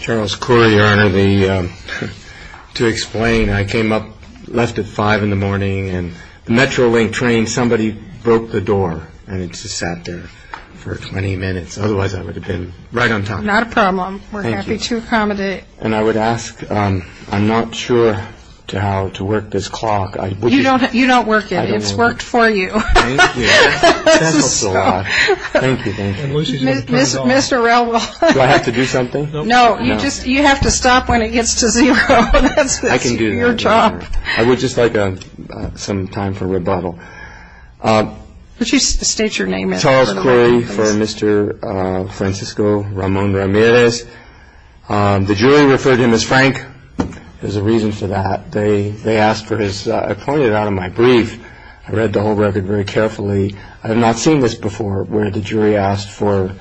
Charles Corey, Your Honor, to explain, I came up, left at 5 in the morning, and the Metrolink train, somebody broke the door, and it just sat there for 20 minutes. Otherwise, I would have been right on time. Not a problem. We're happy to accommodate. And I would ask, I'm not sure how to work this clock. You don't work it. It's worked for you. Thank you. That helps a lot. Thank you, thank you. Mr. Relwell. Do I have to do something? No, you just, you have to stop when it gets to zero. I can do that. That's your job. I would just like some time for rebuttal. Would you state your name, please? Charles Corey for Mr. Francisco Ramon Ramirez. The jury referred him as Frank. There's a reason for that. They asked for his, I pointed it out in my brief. I read the whole record very carefully. I have not seen this before where the jury asked for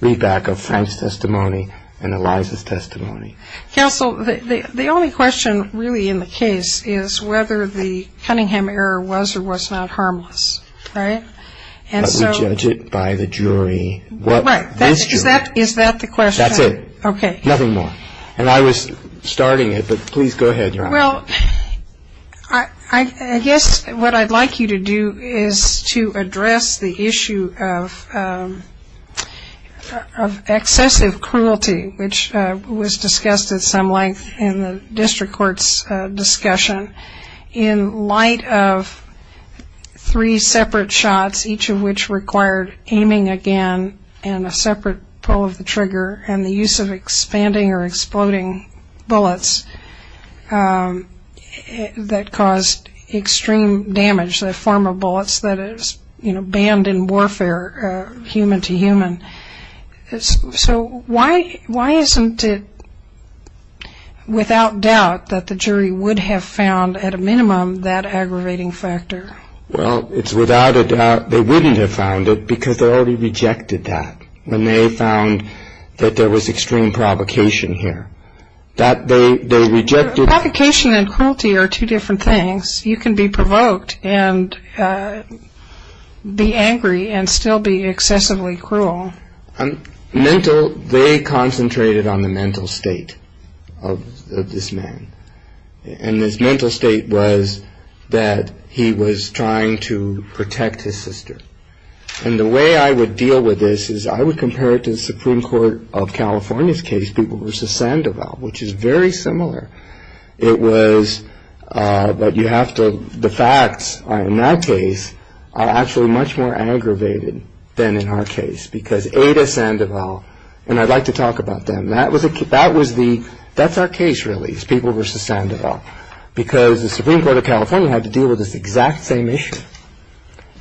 read back of Frank's testimony and Eliza's testimony. Counsel, the only question really in the case is whether the Cunningham error was or was not harmless, right? But we judge it by the jury. Right. Is that the question? That's it. Okay. Nothing more. And I was starting it, but please go ahead. Well, I guess what I'd like you to do is to address the issue of excessive cruelty, which was discussed at some length in the district court's discussion. In light of three separate shots, each of which required aiming again and a separate pull of the trigger, and the use of expanding or exploding bullets that caused extreme damage, the form of bullets that is banned in warfare, human to human. So why isn't it without doubt that the jury would have found at a minimum that aggravating factor? Well, it's without a doubt they wouldn't have found it because they already rejected that. And they found that there was extreme provocation here. That they rejected. Provocation and cruelty are two different things. You can be provoked and be angry and still be excessively cruel. Mental, they concentrated on the mental state of this man. And his mental state was that he was trying to protect his sister. And the way I would deal with this is I would compare it to the Supreme Court of California's case, people versus Sandoval, which is very similar. It was, but you have to, the facts in that case are actually much more aggravated than in our case. Because Ada Sandoval, and I'd like to talk about them. That was the, that's our case really, is people versus Sandoval. Because the Supreme Court of California had to deal with this exact same issue.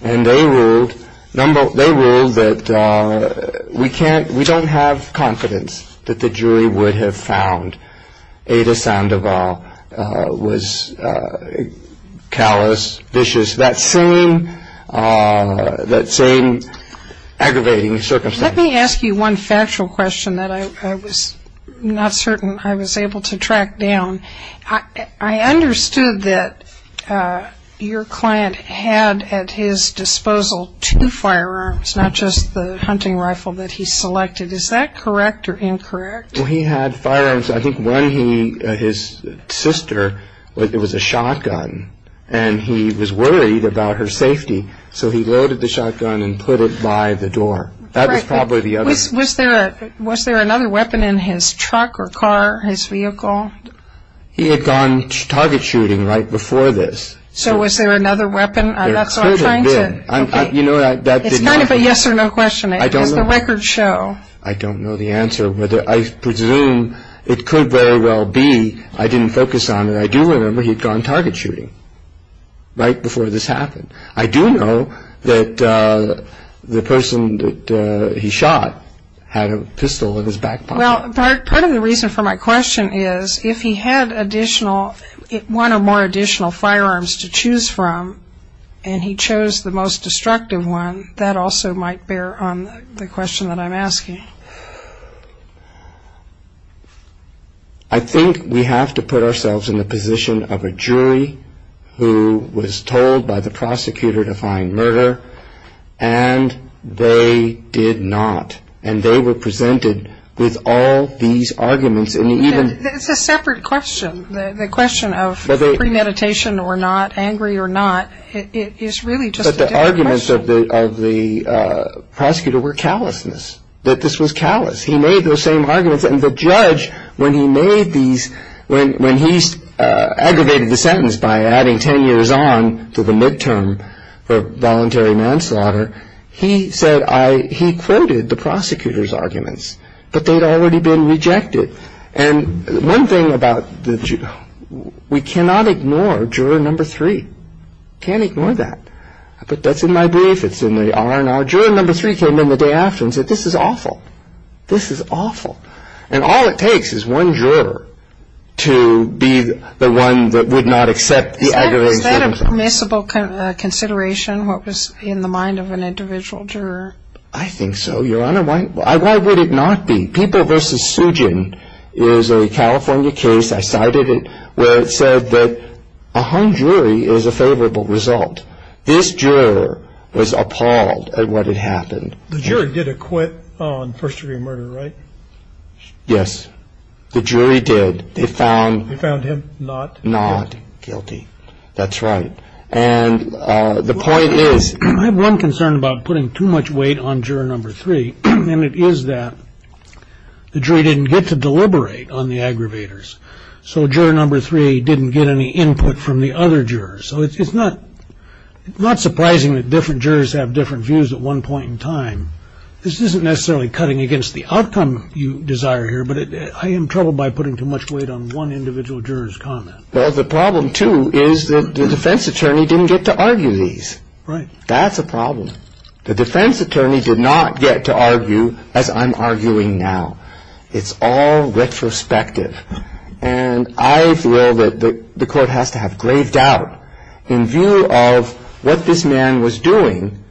And they ruled, they ruled that we can't, we don't have confidence that the jury would have found Ada Sandoval was callous, vicious. That same, that same aggravating circumstance. Let me ask you one factual question that I was not certain I was able to track down. I understood that your client had at his disposal two firearms, not just the hunting rifle that he selected. Is that correct or incorrect? He had firearms. I think one he, his sister, it was a shotgun. And he was worried about her safety. So he loaded the shotgun and put it by the door. That was probably the other. Was there another weapon in his truck or car, his vehicle? He had gone target shooting right before this. So was there another weapon? There could have been. That's what I'm trying to. You know, that did not. It's kind of a yes or no question. I don't know. It's the record show. I don't know the answer. I presume it could very well be I didn't focus on it. I do remember he'd gone target shooting right before this happened. I do know that the person that he shot had a pistol in his back pocket. Well, part of the reason for my question is if he had additional, one or more additional firearms to choose from, and he chose the most destructive one, that also might bear on the question that I'm asking. I think we have to put ourselves in the position of a jury who was told by the prosecutor to find murder, and they did not, and they were presented with all these arguments. It's a separate question. The question of premeditation or not, angry or not, is really just a different question. But the arguments of the prosecutor were callousness. That this was callous. He made those same arguments. And the judge, when he made these, when he aggravated the sentence by adding 10 years on to the midterm for voluntary manslaughter, he said I, he quoted the prosecutor's arguments. But they'd already been rejected. And one thing about the, we cannot ignore juror number three. Can't ignore that. But that's in my brief. It's in the R&R. Juror number three came in the day after and said this is awful. This is awful. And all it takes is one juror to be the one that would not accept the aggravated sentence. Is that a permissible consideration, what was in the mind of an individual juror? I think so, Your Honor. Why would it not be? People v. Sujin is a California case, I cited it, where it said that a hung jury is a favorable result. This juror was appalled at what had happened. The juror did acquit on first degree murder, right? Yes. The jury did. They found. They found him not. Not guilty. That's right. And the point is. I have one concern about putting too much weight on juror number three. And it is that the jury didn't get to deliberate on the aggravators. So juror number three didn't get any input from the other jurors. So it's not surprising that different jurors have different views at one point in time. This isn't necessarily cutting against the outcome you desire here, but I am troubled by putting too much weight on one individual juror's comment. Well, the problem, too, is that the defense attorney didn't get to argue these. Right. That's a problem. The defense attorney did not get to argue as I'm arguing now. It's all retrospective. And I feel that the court has to have graved out in view of what this man was doing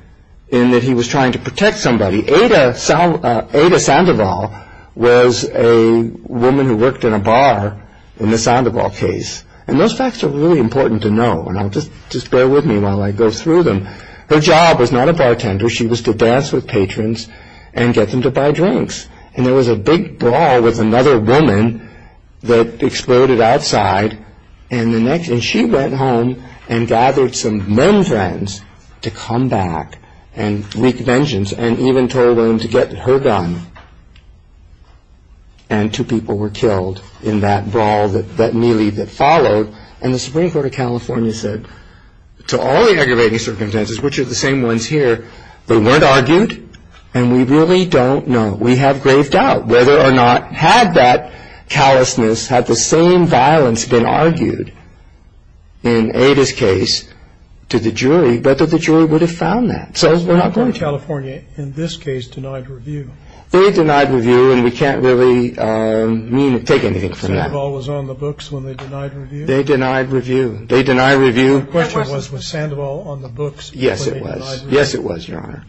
in that he was trying to protect somebody. Ada Sandoval was a woman who worked in a bar in the Sandoval case. And those facts are really important to know. And just bear with me while I go through them. Her job was not a bartender. She was to dance with patrons and get them to buy drinks. And there was a big brawl with another woman that exploded outside. And she went home and gathered some men friends to come back and wreak vengeance and even told them to get her gun. And two people were killed in that brawl, that melee that followed. And the Supreme Court of California said, to all the aggravating circumstances, which are the same ones here, they weren't argued and we really don't know. We have graved out whether or not, had that callousness, had the same violence been argued in Ada's case to the jury, whether the jury would have found that. So we're not going to. California, in this case, denied review. They denied review and we can't really take anything from that. Sandoval was on the books when they denied review? They denied review. They deny review. The question was, was Sandoval on the books when they denied review? Yes, it was. Yes, it was, Your Honor.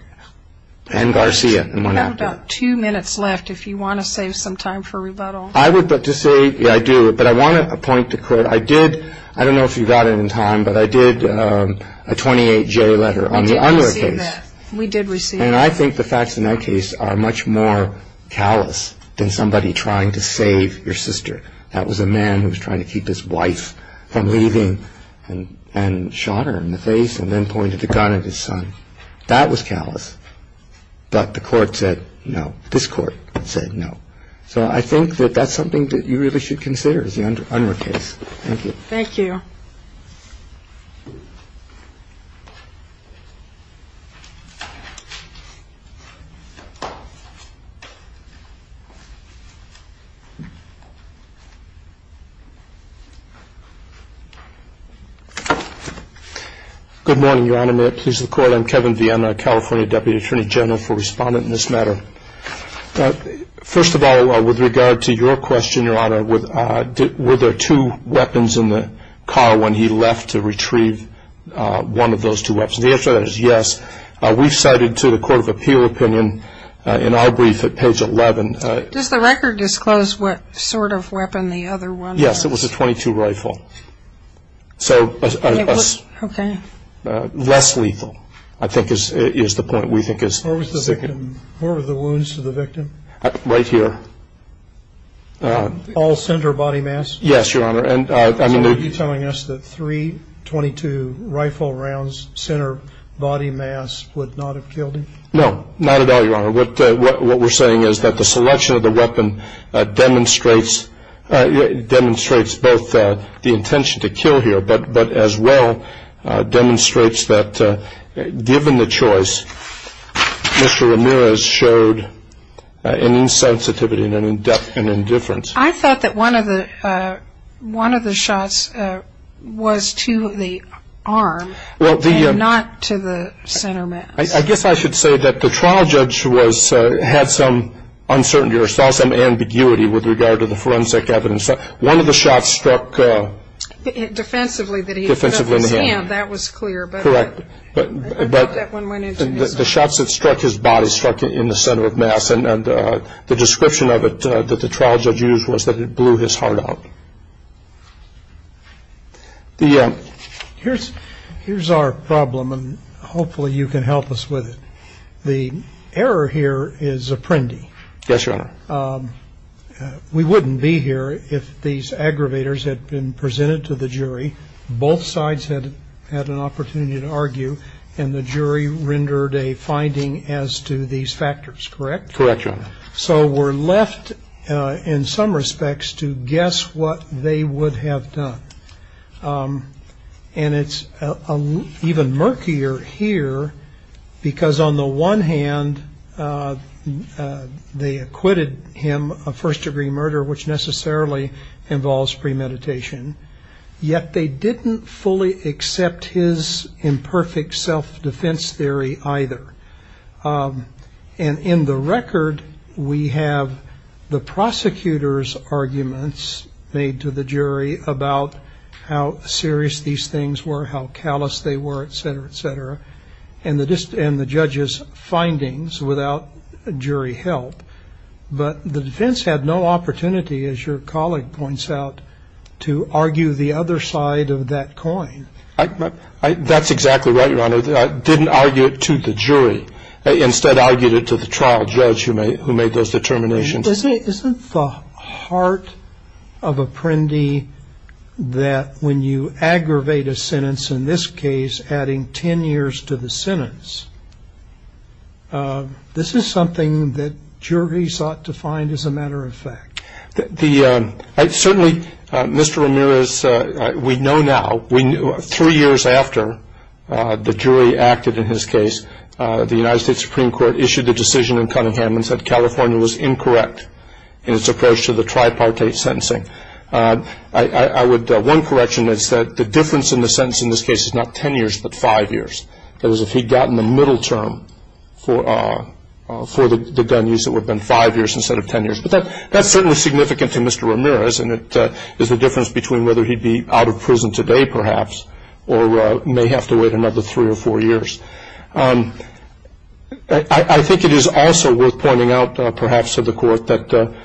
And Garcia and one after that. You have about two minutes left if you want to save some time for rebuttal. I would like to say, yeah, I do, but I want to point to, I did, I don't know if you got it in time, but I did a 28-J letter on the other case. We did receive that. We did receive that. And I think the facts in that case are much more callous than somebody trying to save your sister. That was a man who was trying to keep his wife from leaving and shot her in the face and then pointed the gun at his son. That was callous. But the Court said no. This Court said no. So I think that that's something that you really should consider is the Unruh case. Thank you. Thank you. Good morning, Your Honor. May it please the Court. I'm Kevin Vienna, California Deputy Attorney General for Respondent in this matter. First of all, with regard to your question, Your Honor, were there two weapons in the car when he left to retrieve one of those two weapons? The answer to that is yes. We cited to the Court of Appeal opinion in our brief at page 11. Does the record disclose what sort of weapon the other one was? Yes, it was a .22 rifle. So less lethal I think is the point we think is significant. Where were the wounds to the victim? Right here. All center body mass? Yes, Your Honor. So are you telling us that three .22 rifle rounds center body mass would not have killed him? No, not at all, Your Honor. What we're saying is that the selection of the weapon demonstrates both the intention to kill here, but as well demonstrates that given the choice, Mr. Ramirez showed an insensitivity and an indifference. I thought that one of the shots was to the arm and not to the center mass. I guess I should say that the trial judge had some uncertainty or saw some ambiguity with regard to the forensic evidence. One of the shots struck defensively in the hand. That was clear, but I thought that one went into his arm. The shots that struck his body struck in the center of mass, and the description of it that the trial judge used was that it blew his heart out. Here's our problem, and hopefully you can help us with it. The error here is apprendi. Yes, Your Honor. We wouldn't be here if these aggravators had been presented to the jury. Both sides had an opportunity to argue, and the jury rendered a finding as to these factors, correct? Correct, Your Honor. So we're left in some respects to guess what they would have done, and it's even murkier here because on the one hand they acquitted him of first-degree murder, which necessarily involves premeditation, yet they didn't fully accept his imperfect self-defense theory either. And in the record we have the prosecutor's arguments made to the jury about how serious these things were, how callous they were, et cetera, et cetera, and the judge's findings without jury help. But the defense had no opportunity, as your colleague points out, to argue the other side of that coin. So they didn't argue it to the jury. They instead argued it to the trial judge who made those determinations. Isn't the heart of apprendi that when you aggravate a sentence, in this case adding 10 years to the sentence, this is something that juries ought to find as a matter of fact? Certainly, Mr. Ramirez, we know now, three years after the jury acted in his case, the United States Supreme Court issued a decision in Cunningham and said California was incorrect in its approach to the tripartite sentencing. One correction is that the difference in the sentence in this case is not 10 years but five years. That is, if he had gotten the middle term for the gun use, it would have been five years instead of 10 years. But that's certainly significant to Mr. Ramirez, and it is the difference between whether he'd be out of prison today, perhaps, or may have to wait another three or four years. I think it is also worth pointing out, perhaps, to the court, that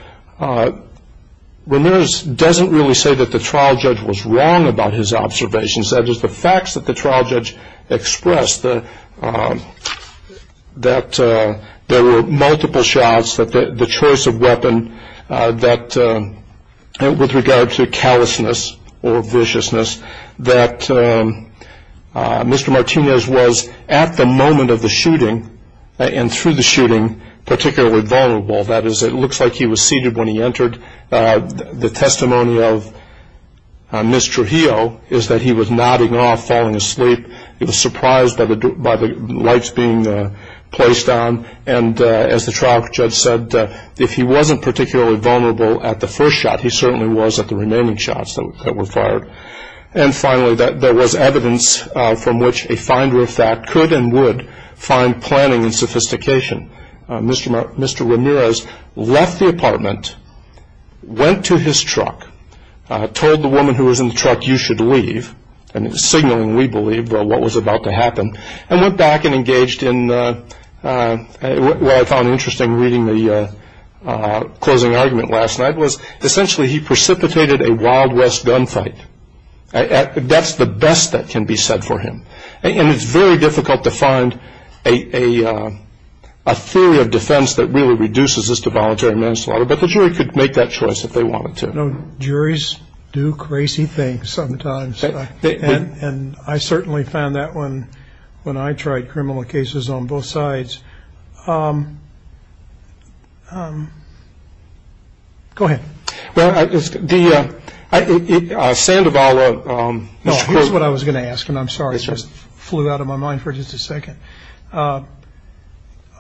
Ramirez doesn't really say that the trial judge was wrong about his observations. That is, the facts that the trial judge expressed, that there were multiple shots, that the choice of weapon with regard to callousness or viciousness, that Mr. Martinez was, at the moment of the shooting and through the shooting, particularly vulnerable. That is, it looks like he was seated when he entered. The testimony of Ms. Trujillo is that he was nodding off, falling asleep. He was surprised by the lights being placed on. And as the trial judge said, if he wasn't particularly vulnerable at the first shot, he certainly was at the remaining shots that were fired. And finally, there was evidence from which a finder of fact could and would find planning and sophistication. Mr. Ramirez left the apartment, went to his truck, told the woman who was in the truck, you should leave, signaling, we believe, what was about to happen, and went back and engaged in what I found interesting reading the closing argument last night, was essentially he precipitated a wild west gunfight. That's the best that can be said for him. And it's very difficult to find a theory of defense that really reduces this to voluntary manslaughter, but the jury could make that choice if they wanted to. You know, juries do crazy things sometimes. And I certainly found that when I tried criminal cases on both sides. Go ahead. Well, the Sandoval. Here's what I was going to ask, and I'm sorry, it just flew out of my mind for just a second.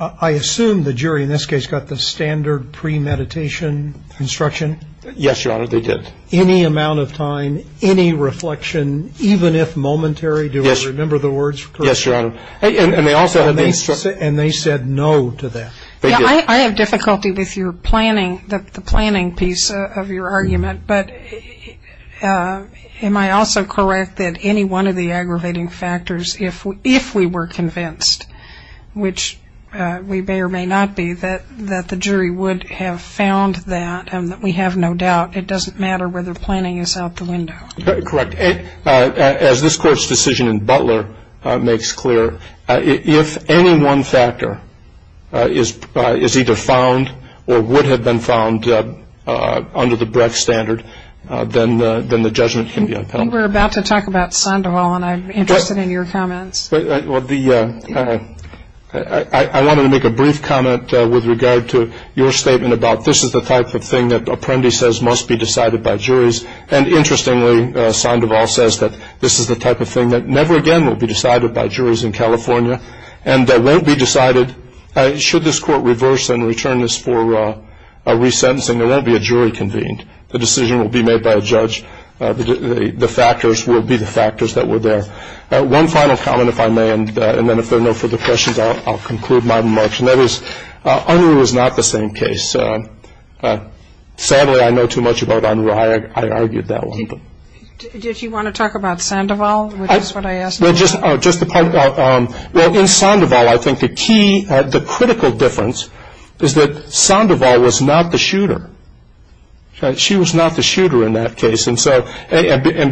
I assume the jury in this case got the standard premeditation instruction? Yes, Your Honor, they did. Any amount of time, any reflection, even if momentary? Yes. Do I remember the words correctly? Yes, Your Honor. And they said no to that. I have difficulty with your planning, the planning piece of your argument. But am I also correct that any one of the aggravating factors, if we were convinced, which we may or may not be, that the jury would have found that and that we have no doubt, it doesn't matter whether planning is out the window. Correct. As this Court's decision in Butler makes clear, if any one factor is either found or would have been found under the Brecht standard, then the judgment can be on penalty. I think we're about to talk about Sandoval, and I'm interested in your comments. I wanted to make a brief comment with regard to your statement about this is the type of thing that Sandoval says that this is the type of thing that never again will be decided by juries in California and that won't be decided. Should this Court reverse and return this for resentencing, there won't be a jury convened. The decision will be made by a judge. The factors will be the factors that were there. One final comment, if I may, and then if there are no further questions, I'll conclude my remarks. And that is, Unruh is not the same case. Sadly, I know too much about Unruh. I argued that one. Did you want to talk about Sandoval, which is what I asked about? Well, in Sandoval, I think the critical difference is that Sandoval was not the shooter. She was not the shooter in that case. And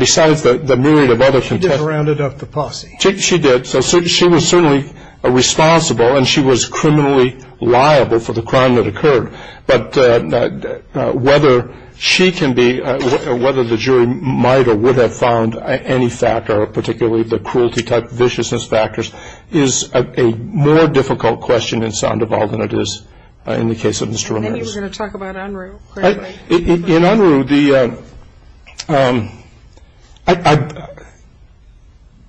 besides the myriad of other contexts. She just rounded up the posse. She did. So she was certainly responsible, and she was criminally liable for the crime that occurred. But whether she can be, whether the jury might or would have found any factor, or particularly the cruelty type viciousness factors, is a more difficult question in Sandoval than it is in the case of Mr. Ramirez. I think you were going to talk about Unruh. In Unruh,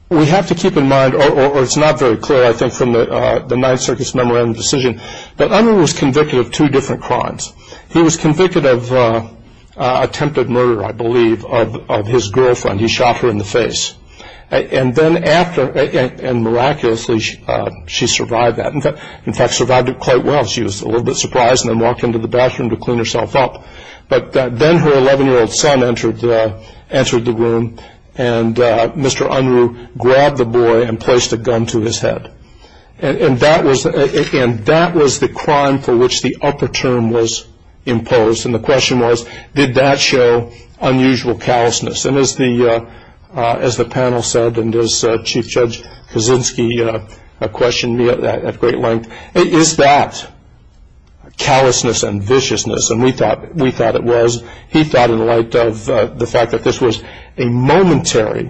we have to keep in mind, or it's not very clear, I think, from the Ninth Circuit's memorandum decision, that Unruh was convicted of two different crimes. He was convicted of attempted murder, I believe, of his girlfriend. He shot her in the face. And then after, and miraculously, she survived that. In fact, survived it quite well. She was a little bit surprised and then walked into the bathroom to clean herself up. But then her 11-year-old son entered the room, and Mr. Unruh grabbed the boy and placed a gun to his head. And that was the crime for which the upper term was imposed. And the question was, did that show unusual callousness? And as the panel said, and as Chief Judge Kaczynski questioned me at great length, is that callousness and viciousness? And we thought it was. He thought, in light of the fact that this was a momentary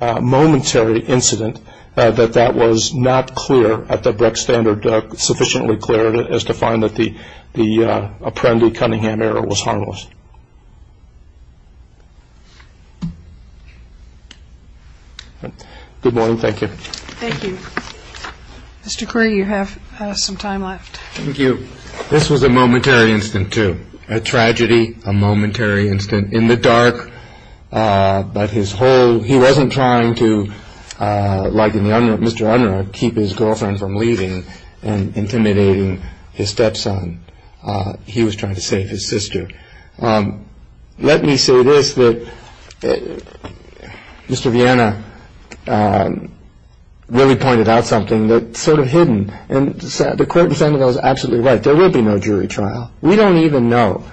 incident, that that was not clear at the Breck Standard, sufficiently clear as to find that the Apprendi-Cunningham error was harmless. Good morning. Thank you. Thank you. Mr. Curry, you have some time left. Thank you. This was a momentary incident too, a tragedy, a momentary incident. In the dark, but his whole, he wasn't trying to, like Mr. Unruh, keep his girlfriend from leaving and intimidating his stepson. He was trying to save his sister. Let me say this, that Mr. Viena really pointed out something that's sort of hidden. And the court in San Miguel is absolutely right. There will be no jury trial. We don't even know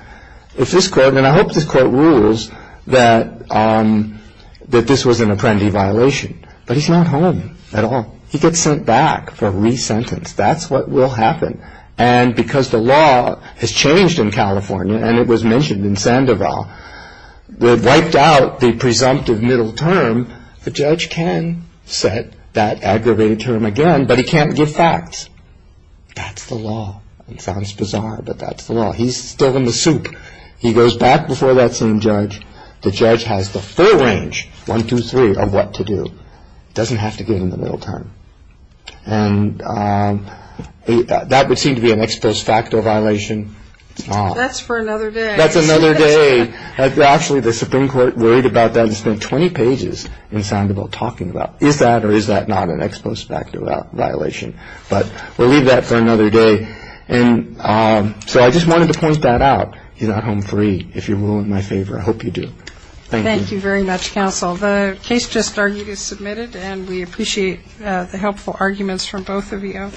if this court, and I hope this court rules that this was an Apprendi violation. But he's not home at all. He gets sent back for re-sentence. That's what will happen. And because the law has changed in California, and it was mentioned in Sandoval, they've wiped out the presumptive middle term. The judge can set that aggravated term again, but he can't give facts. That's the law. It sounds bizarre, but that's the law. He's still in the soup. He goes back before that same judge. The judge has the full range, one, two, three, of what to do. He doesn't have to give him the middle term. And that would seem to be an ex post facto violation. It's not. That's for another day. That's another day. Actually, the Supreme Court worried about that and spent 20 pages in Sandoval talking about, is that or is that not an ex post facto violation. But we'll leave that for another day. And so I just wanted to point that out. He's not home free. I hope you do. Thank you. Thank you very much, counsel. The case just argued is submitted, and we appreciate the helpful arguments from both of you.